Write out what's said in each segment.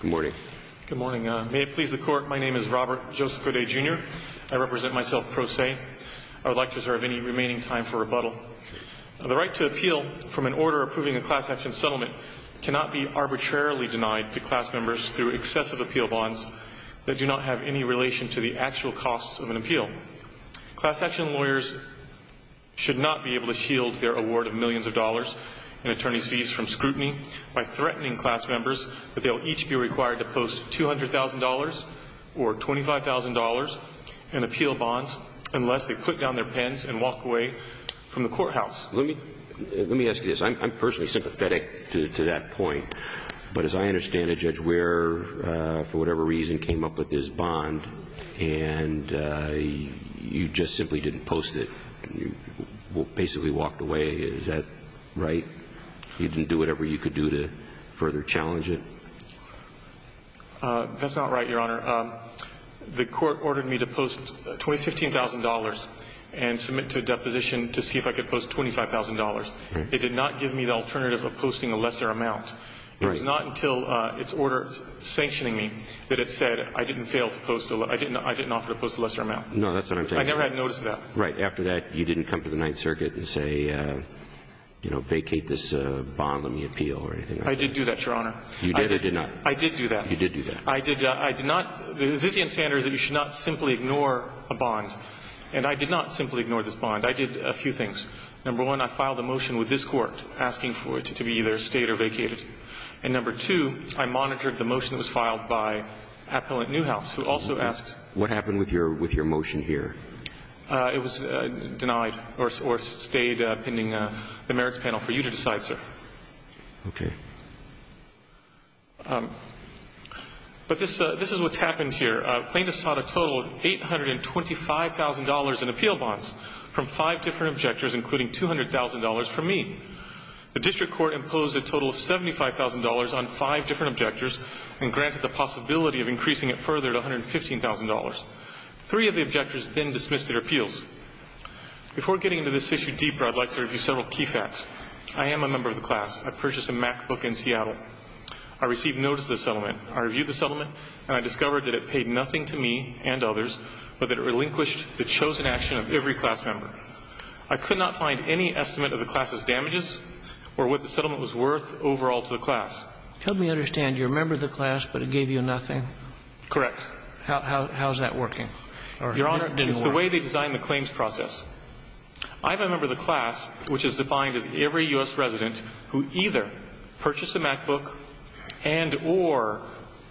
Good morning. Good morning. May it please the Court, my name is Robert Joseph Gaudet, Jr. I represent myself pro se. I would like to reserve any remaining time for rebuttal. The right to appeal from an order approving a class action settlement cannot be arbitrarily denied to class members through excessive appeal bonds that do not have any relation to the actual costs of an appeal. Class action lawyers should not be able to shield their award of millions of dollars in attorney's fees from scrutiny by threatening class members that they will each be required to post $200,000 or $25,000 in appeal bonds unless they put down their pens and walk away from the courthouse. Let me ask you this. I'm personally sympathetic to that point, but as I understand it, Judge, we're for whatever reason came up with this bond and you just simply didn't post it and you basically walked away. Is that right? You didn't do whatever you could do to further challenge it? That's not right, Your Honor. The Court ordered me to post $20,000, $15,000 and submit to a deposition to see if I could post $25,000. It did not give me the alternative of posting a lesser amount. It was not until its order sanctioning me that it said I didn't offer to post a lesser amount. No, that's what I'm saying. I never had notice of that. Right. After that, you didn't come to the Ninth Circuit and say, you know, vacate this bond, let me appeal or anything like that? I did do that, Your Honor. You did or did not? I did do that. You did do that. I did not. The Zissian standard is that you should not simply ignore a bond, and I did not simply ignore this bond. I did a few things. Number one, I filed a motion with this Court asking for it to be either stayed or vacated. And number two, I monitored the motion that was filed by Appellant Newhouse, who also asked What happened with your motion here? It was denied or stayed pending the merits panel for you to decide, sir. Okay. But this is what's happened here. Plaintiffs sought a total of $825,000 in appeal bonds from five different objectors, including $200,000 from me. The District Court imposed a total of $75,000 on five different objectors and granted the possibility of increasing it further to $115,000. Three of the objectors then dismissed their appeals. Before getting into this issue deeper, I'd like to review several key facts. I am a member of the class. I purchased a MacBook in Seattle. I received notice of the settlement. I reviewed the settlement, and I discovered that it paid nothing to me and others, but that it relinquished the chosen action of every class member. I could not find any estimate of the class's damages or what the settlement was worth overall to the class. Tell me I understand. You're a member of the class, but it gave you nothing. Correct. How is that working? Your Honor, it's the way they designed the claims process. I'm a member of the class, which is defined as every U.S. resident who either purchased a MacBook and or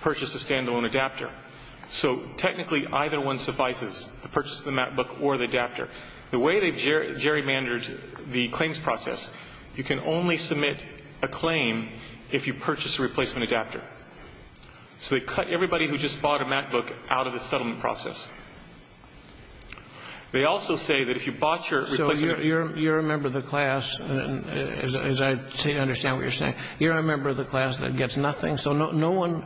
purchased a standalone adapter. So technically, either one suffices, the purchase of the MacBook or the adapter. The way they've gerrymandered the claims process, you can only submit a claim if you purchase a replacement adapter. So they cut everybody who just bought a MacBook out of the settlement process. They also say that if you bought your replacement adapter. So you're a member of the class, as I understand what you're saying. You're a member of the class that gets nothing. So no one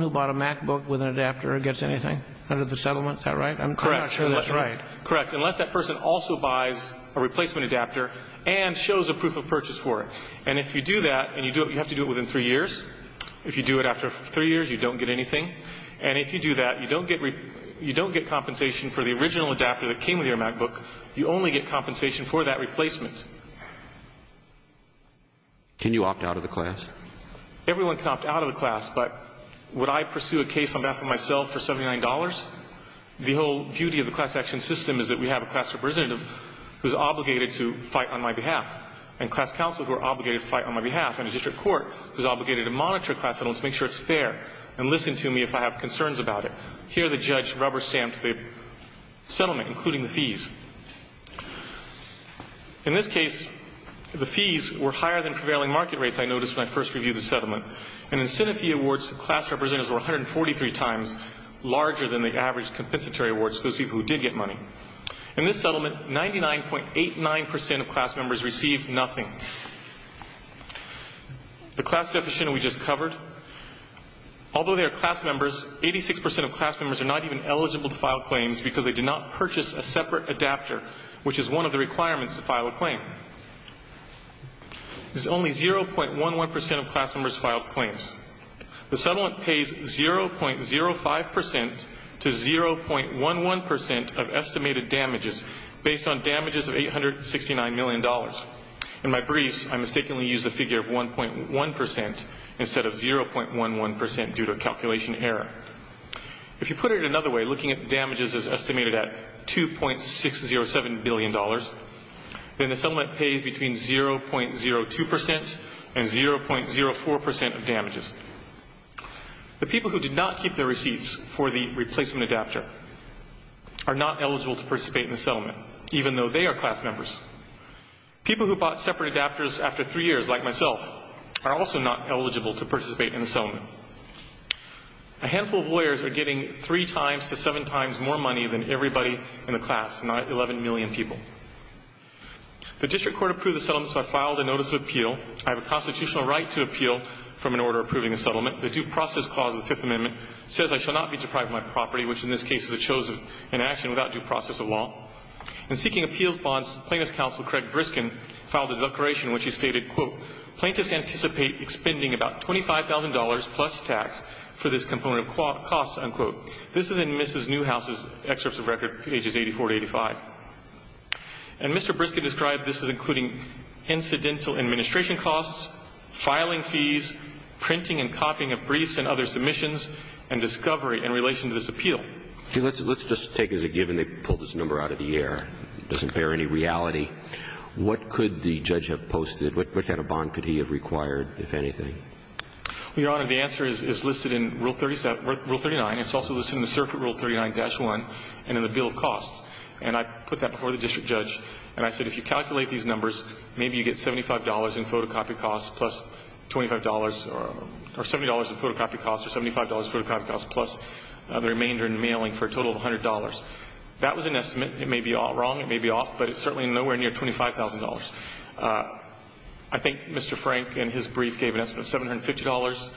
who bought a MacBook with an adapter gets anything out of the settlement. Is that right? I'm not sure that's right. Correct. Unless that person also buys a replacement adapter and shows a proof of purchase for it. And if you do that, and you have to do it within three years. If you do it after three years, you don't get anything. And if you do that, you don't get compensation for the original adapter that came with your MacBook. You only get compensation for that replacement. Can you opt out of the class? Everyone can opt out of the class. But would I pursue a case on behalf of myself for $79? The whole beauty of the class action system is that we have a class representative who's obligated to fight on my behalf. And class counsel who are obligated to fight on my behalf. And a district court who's obligated to monitor class settlements to make sure it's fair. And listen to me if I have concerns about it. Here the judge rubber-stamped the settlement, including the fees. In this case, the fees were higher than prevailing market rates I noticed when I first reviewed the settlement. And in SINIFE awards, the class representatives were 143 times larger than the average compensatory awards to those people who did get money. In this settlement, 99.89% of class members received nothing. The class deficit we just covered. Although they are class members, 86% of class members are not even eligible to file claims because they did not purchase a separate adapter which is one of the requirements to file a claim. Only 0.11% of class members filed claims. The settlement pays 0.05% to 0.11% of estimated damages based on damages of $869 million. In my briefs, I mistakenly used the figure of 1.1% instead of 0.11% due to a calculation error. If you put it another way, looking at the damages is estimated at $2.607 billion. Then the settlement pays between 0.02% and 0.04% of damages. The people who did not keep their receipts for the replacement adapter are not eligible to participate in the settlement even though they are class members. People who bought separate adapters after three years like myself are also not eligible to participate in the settlement. A handful of lawyers are getting three times to seven times more money than everybody in the class, not 11 million people. The district court approved the settlement so I filed a notice of appeal. I have a constitutional right to appeal from an order approving the settlement. The due process clause of the Fifth Amendment says I shall not be deprived of my property which in this case is a choice of inaction without due process of law. In seeking appeals bonds, Plaintiff's counsel Craig Briskin filed a declaration which he stated, quote, plaintiffs anticipate expending about $25,000 plus tax for this component of costs, unquote. This is in Mrs. Newhouse's excerpts of record, pages 84 to 85. And Mr. Briskin described this as including incidental administration costs, filing fees, printing and copying of briefs and other submissions and discovery in relation to this appeal. Let's just take as a given they pulled this number out of the air. It doesn't bear any reality. What could the judge have posted? What kind of bond could he have required, if anything? Your Honor, the answer is listed in Rule 37, Rule 39. It's also listed in the circuit Rule 39-1 and in the bill of costs. And I put that before the district judge and I said if you calculate these numbers maybe you get $75 in photocopy costs plus $25 or $70 in photocopy costs or $75 in photocopy costs plus the remainder in mailing for a total of $100. That was an estimate. It may be wrong, it may be off, but it's certainly nowhere near $25,000. I think Mr. Frank in his brief gave an estimate of $750.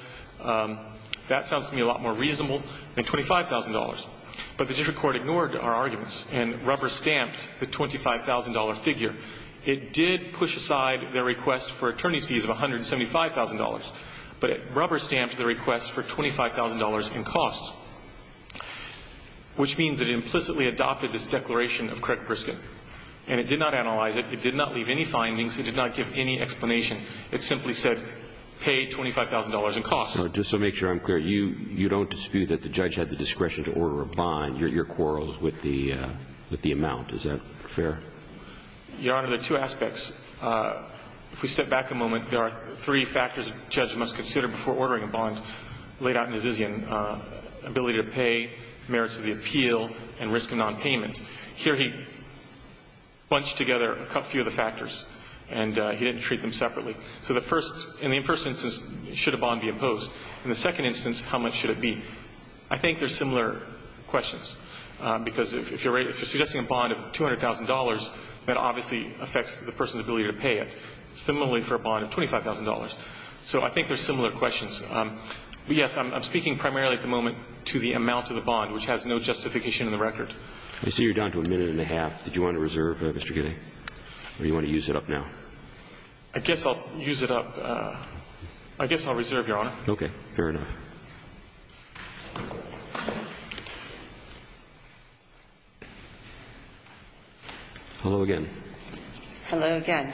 That sounds to me a lot more reasonable than $25,000. But the district court ignored our arguments and rubber-stamped the $25,000 figure. It did push aside their request for attorney's fees of $175,000, but it rubber-stamped the request for $25,000 in costs, which means it implicitly adopted this declaration of credit brisket. And it did not analyze it, it did not leave any findings, it did not give any explanation. It simply said pay $25,000 in costs. Just to make sure I'm clear, you don't dispute that the judge had the discretion to order a bond, your quarrels with the amount. Is that fair? Your Honor, there are two aspects. If we step back a moment, there are three factors a judge must consider before ordering a bond. Ability to pay, merits of the appeal, and risk of nonpayment. Here he bunched together a few of the factors and he didn't treat them separately. In the first instance, should a bond be imposed? In the second instance, how much should it be? I think they're similar questions. Because if you're suggesting a bond of $200,000, that obviously affects the person's ability to pay it. Similarly for a bond of $25,000. So I think they're similar questions. Yes, I'm speaking primarily at the moment to the amount of the bond, which has no justification in the record. I see you're down to a minute and a half. Did you want to reserve, Mr. Gilly? Or do you want to use it up now? I guess I'll use it up. I guess I'll reserve, Your Honor. Okay, fair enough. Hello again. Hello again.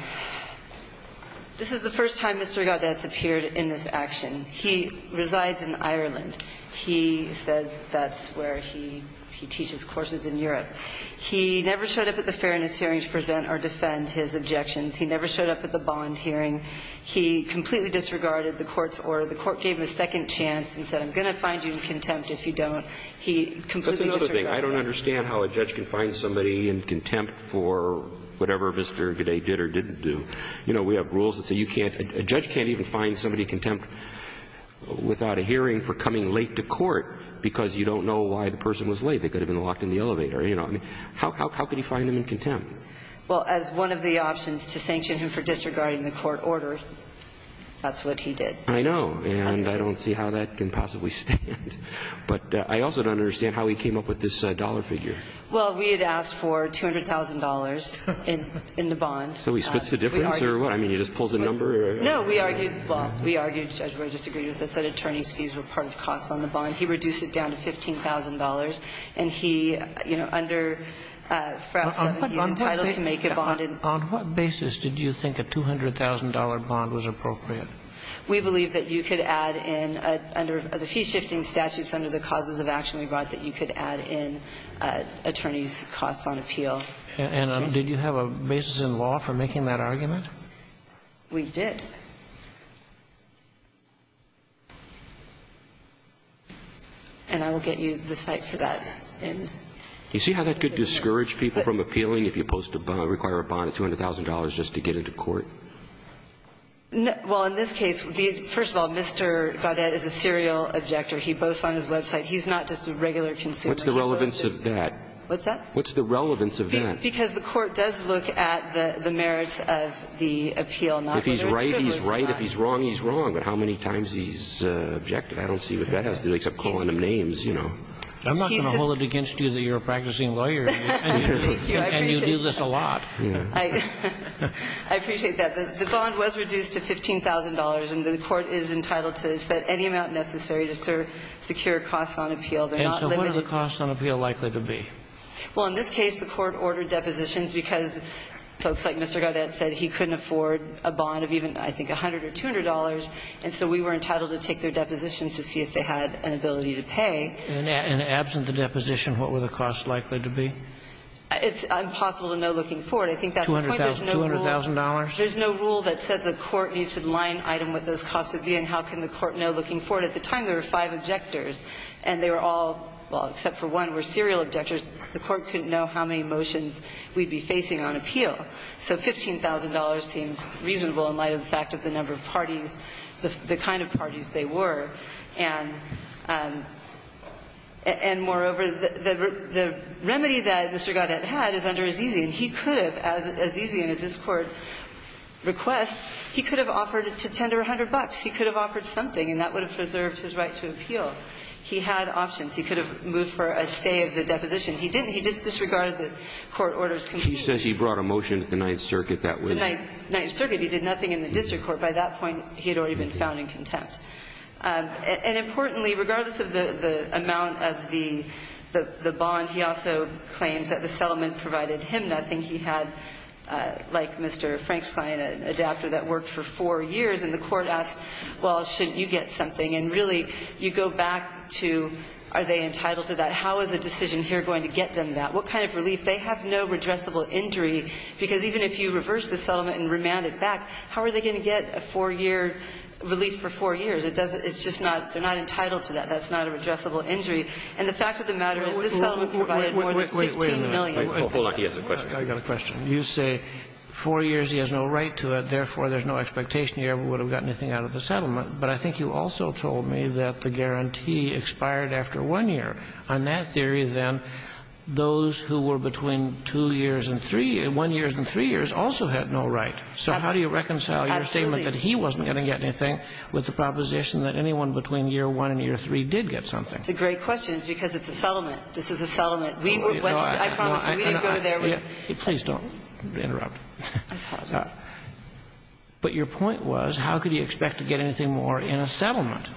This is the first time, Mr. Regard, that's appeared in this action. He resides in Ireland. He says that's where he teaches courses in Europe. He never showed up at the fairness hearing to present or defend his objections. He never showed up at the bond hearing. He completely disregarded the Court's order. The Court gave him a second chance and said, I'm going to find you in contempt if you don't. He completely disregarded it. That's another thing. I don't understand how a judge can find somebody in contempt for whatever Mr. Gooday did or didn't do. You know, we have rules that say a judge can't even find somebody in contempt without a hearing for coming late to court because you don't know why the person was late. They could have been locked in the elevator. How could he find him in contempt? Well, as one of the options to sanction him for disregarding the Court order, that's what he did. I know, and I don't see how that can possibly stand. I also don't understand how he came up with this $200,000 figure. Well, we had asked for $200,000 in the bond. So he splits the difference, or what? I mean, he just pulls the number? No, we argued, well, we argued, Judge Brewer disagreed with us, that attorney's fees were part of costs on the bond. He reduced it down to $15,000 and he, you know, under FRAP 17 entitled to make a bond. On what basis did you think a $200,000 bond was appropriate? We believe that you could add in under the fee-shifting statutes under the causes of action we brought that you could add in attorney's costs on appeal. And did you have a basis in law for making that argument? We did. And I will get you the site for that. Do you see how that could discourage people from appealing if you're supposed to require a bond of $200,000 just to get it to court? Well, in this case, first of all, Mr. Gaudet is a serial objector. He boasts on his website. He's not just a regular consumer. What's the relevance of that? What's that? What's the relevance of that? Because the Court does look at the merits of the appeal, not whether it's criminal or not. If he's right, he's right. If he's wrong, he's wrong. But how many times he's objected, I don't see what that has to do, except calling him names, you know. I'm not going to hold it against you that you're a practicing lawyer. And you do this a lot. I appreciate that. The bond was reduced to $15,000, and the Court is entitled to set any amount necessary to secure costs on appeal. And so what are the costs on appeal likely to be? Well, in this case, the Court ordered depositions because folks like Mr. Gaudet said he couldn't afford a bond of even, I think, $100 or $200. And so we were entitled to take their depositions to see if they had an ability to pay. And absent the deposition, what were the costs likely to be? It's impossible to know looking forward. I think that's the point. $200,000? There's no rule that says the Court needs to line item with those costs of viewing. How can the Court know looking forward? At the time, there were five objectors, and they were all, well, except for one, were serial objectors. The Court couldn't know how many motions we'd be facing on appeal. So $15,000 seems reasonable in light of the fact of the number of parties, the kind of parties they were. And moreover, the remedy that Mr. Gaudet had is under Azizian. And he could have, as Azizian, as this Court requests, he could have offered to tender $100. He could have offered something, and that would have preserved his right to appeal. He had options. He could have moved for a stay of the deposition. He didn't. He just disregarded the Court order's conclusion. He says he brought a motion to the Ninth Circuit that was. The Ninth Circuit. He did nothing in the district court. By that point, he had already been found in contempt. And importantly, regardless of the amount of the bond, he also claims that the settlement provided him a relief. And I think he had, like Mr. Frank's client, an adapter that worked for four years. And the Court asked, well, shouldn't you get something? And really, you go back to are they entitled to that? How is a decision here going to get them that? What kind of relief? They have no redressable injury, because even if you reverse the settlement and remand it back, how are they going to get a four-year relief for four years? It doesn't – it's just not – they're not entitled to that. That's not a redressable injury. And the fact of the matter is this settlement provided more than 15 million. I got a question. You say four years, he has no right to it, therefore there's no expectation he ever would have gotten anything out of the settlement. But I think you also told me that the guarantee expired after one year. On that theory, then, those who were between two years and three – one year and three years also had no right. So how do you reconcile your statement that he wasn't going to get anything with the proposition that anyone between year one and year three did get something? It's a great question. It's because it's a settlement. This is a settlement. We were – I promise you, we didn't go there. Please don't interrupt. But your point was, how could he expect to get anything more in a settlement?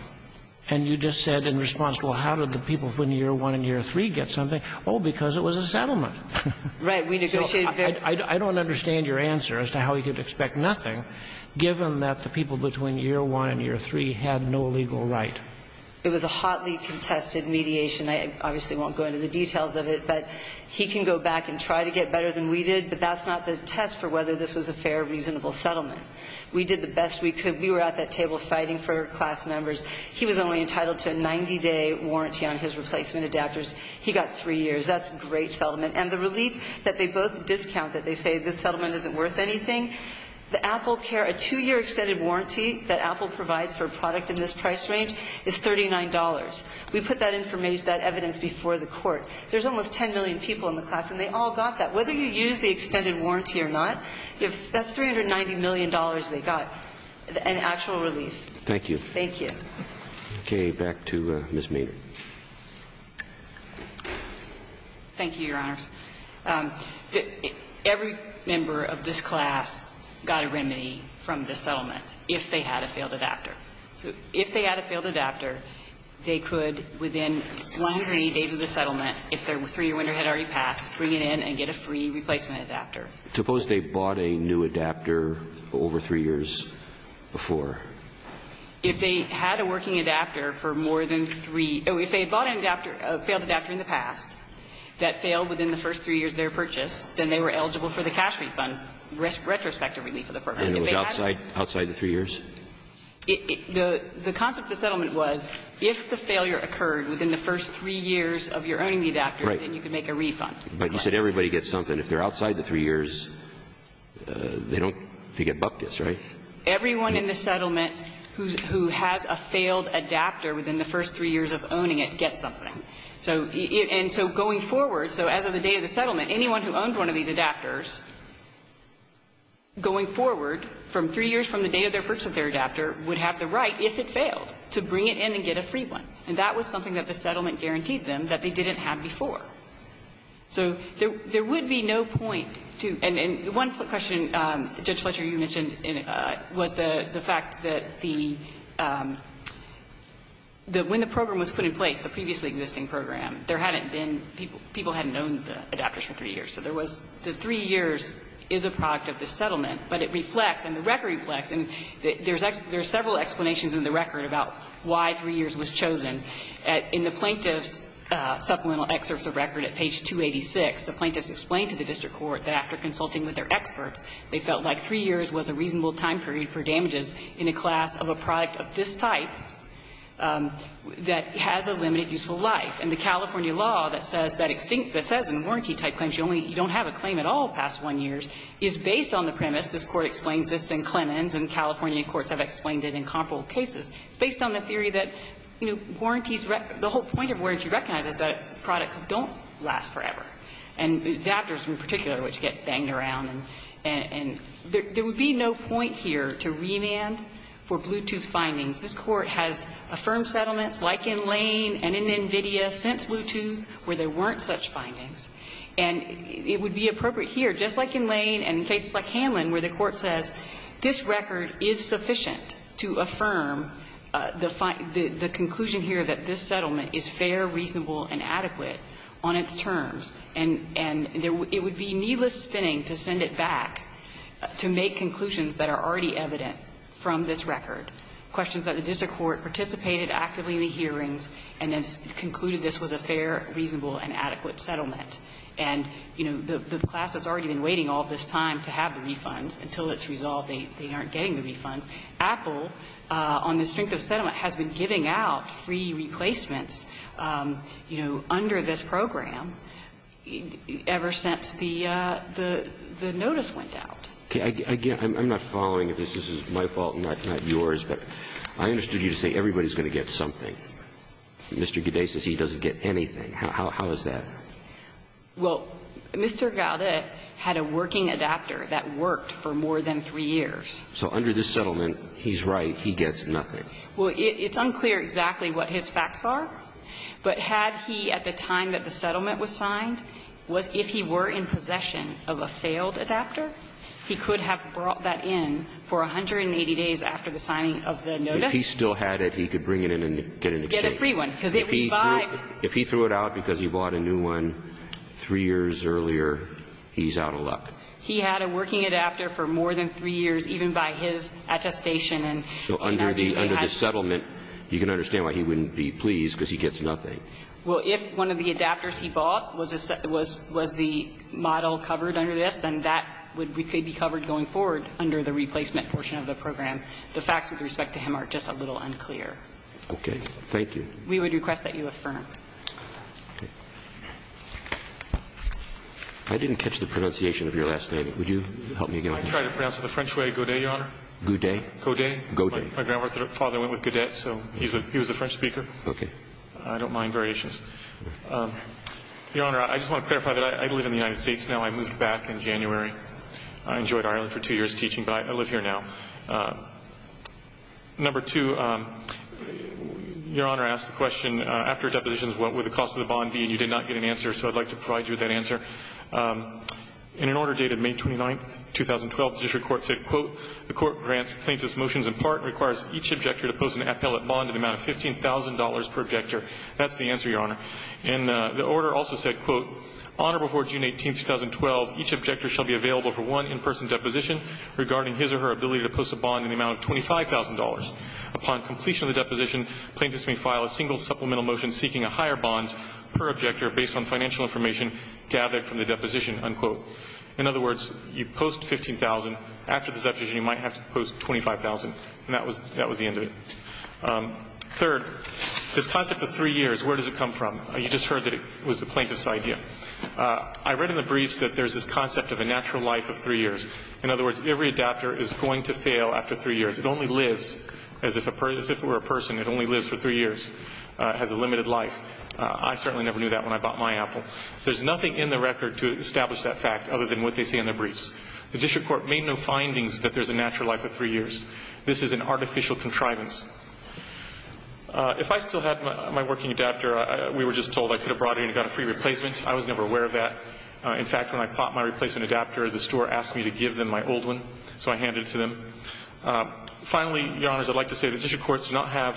And you just said in response, well, how did the people between year one and year three get something? Oh, because it was a settlement. Right. We negotiated very – I don't understand your answer as to how he could expect nothing, given that the people between year one and year three had no legal right. It was a hotly contested mediation. I obviously won't go into the details of it. But he can go back and try to get better than we did, but that's not the test for whether this was a fair, reasonable settlement. We did the best we could. We were at that table fighting for class members. He was only entitled to a 90-day warranty on his replacement adapters. He got three years. That's a great settlement. And the relief that they both discount that they say this settlement isn't worth anything, the AppleCare – a two-year extended warranty that Apple provides for a product in this price range is $39. We put that information, that evidence before the Court. There's almost 10 million people in the class, and they all got that. Whether you use the extended warranty or not, that's $390 million they got in actual relief. Thank you. Thank you. Okay. Back to Ms. Maynard. Thank you, Your Honors. Every member of this class got a remedy from this settlement if they had a failed adapter. So if they had a failed adapter, they could within 180 days of the settlement, if their three-year winter had already passed, bring it in and get a free replacement adapter. Suppose they bought a new adapter over three years before? If they had a working adapter for more than three – if they had bought a failed adapter in the past that failed within the first three years of their purchase, then they were eligible for the cash refund, retrospective relief of the program. And it was outside the three years? The concept of the settlement was if the failure occurred within the first three years of your owning the adapter, then you could make a refund. But you said everybody gets something. If they're outside the three years, they don't get buckets, right? Everyone in the settlement who has a failed adapter within the first three years of owning it gets something. And so going forward, so as of the date of the settlement, anyone who owned one of these adapters, going forward, from three years from the date of their purchase of their adapter would have the right, if it failed, to bring it in and get a free one. And that was something that the settlement guaranteed them that they didn't have before. So there would be no point to – and one question, Judge Fletcher, you mentioned was the fact that the – that when the program was put in place, the previously existing program, there hadn't been – people hadn't owned the adapters for three years. So there was – the three years is a product of the settlement, but it reflects and the claim – there's several explanations in the record about why three years was chosen. In the plaintiff's supplemental excerpts of record at page 286, the plaintiffs explained to the district court that after consulting with their experts, they felt like three years was a reasonable time period for damages in a class of a product of this type that has a limited useful life. And the California law that says that extinct – that says in warranty-type claims you only – you don't have a claim at all past one year is based on the premise, this Court explains this in Clemens, and California courts have explained it in comparable cases, based on the theory that, you know, warranties – the whole point of warranty recognizes that products don't last forever, and adapters in particular, which get banged around, and there would be no point here to remand for Bluetooth findings. This Court has affirmed settlements like in Lane and in NVIDIA since Bluetooth where there weren't such findings. And it would be appropriate here, just like in Lane and in cases like Hanlon where the claimant says this record is sufficient to affirm the conclusion here that this settlement is fair, reasonable, and adequate on its terms, and it would be needless spinning to send it back to make conclusions that are already evident from this record, questions that the district court participated actively in the hearings and then concluded this was a fair, reasonable, and adequate settlement. And, you know, the class has already been waiting all this time to have the refunds. Until it's resolved, they aren't getting the refunds. Apple, on the strength of settlement, has been giving out free replacements, you know, under this program ever since the notice went out. Okay. Again, I'm not following this. This is my fault and not yours, but I understood you to say everybody's going to get something. Mr. Gaudet says he doesn't get anything. How is that? Well, Mr. Gaudet had a working adapter that worked for more than three years. So under this settlement, he's right. He gets nothing. Well, it's unclear exactly what his facts are, but had he at the time that the settlement was signed, was if he were in possession of a failed adapter, he could have brought that in for 180 days after the signing of the notice. If he still had it, he could bring it in and get an exchange. Get a free one, because it revived. If he threw it out because he bought a new one three years earlier, he's out of luck. He had a working adapter for more than three years, even by his attestation. So under the settlement, you can understand why he wouldn't be pleased, because he gets nothing. Well, if one of the adapters he bought was the model covered under this, then that could be covered going forward under the replacement portion of the program. The facts with respect to him are just a little unclear. Okay. Thank you. We would request that you affirm. I didn't catch the pronunciation of your last name. Would you help me again? I tried to pronounce it the French way, Godet, Your Honor. Godet? Godet. My grandfather went with Godet, so he was a French speaker. Okay. I don't mind variations. Your Honor, I just want to clarify that I live in the United States now. I moved back in January. I enjoyed Ireland for two years teaching, but I live here now. Number two, Your Honor asked the question, after depositions, what would the cost of the bond be? And you did not get an answer, so I'd like to provide you with that answer. In an order dated May 29th, 2012, the district court said, quote, the court grants plaintiff's motions in part and requires each objector to post an appellate bond in the amount of $15,000 per objector. That's the answer, Your Honor. And the order also said, quote, on or before June 18th, 2012, each objector shall be available for one in-person deposition regarding his or her ability to post a bond in the amount of $25,000. Upon completion of the deposition, plaintiffs may file a single supplemental motion seeking a higher bond per objector based on financial information gathered from the deposition, unquote. In other words, you post $15,000. After the deposition, you might have to post $25,000. And that was the end of it. Third, this concept of three years, where does it come from? You just heard that it was the plaintiff's idea. I read in the briefs that there's this concept of a natural life of three years. In other words, every adaptor is going to fail after three years. It only lives, as if it were a person, it only lives for three years, has a limited life. I certainly never knew that when I bought my Apple. There's nothing in the record to establish that fact other than what they say in their briefs. The district court made no findings that there's a natural life of three years. This is an artificial contrivance. If I still had my working adaptor, we were just told I could have brought it in and got a free replacement. I was never aware of that. In fact, when I bought my replacement adaptor, the store asked me to give them my old one, so I handed it to them. Finally, Your Honors, I'd like to say the district courts do not have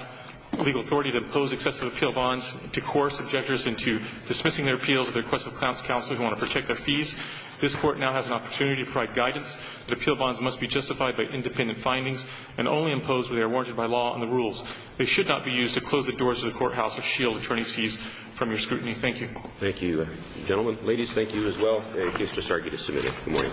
legal authority to impose excessive appeal bonds to coerce objectors into dismissing their appeals at the request of counsel who want to protect their fees. This Court now has an opportunity to provide guidance that appeal bonds must be justified by independent findings and only imposed where they are warranted by law and the rules. They should not be used to close the doors of the courthouse or shield attorneys' fees from your scrutiny. Thank you. Thank you, gentlemen. Ladies, thank you as well. The case is ready to submit it. Good morning.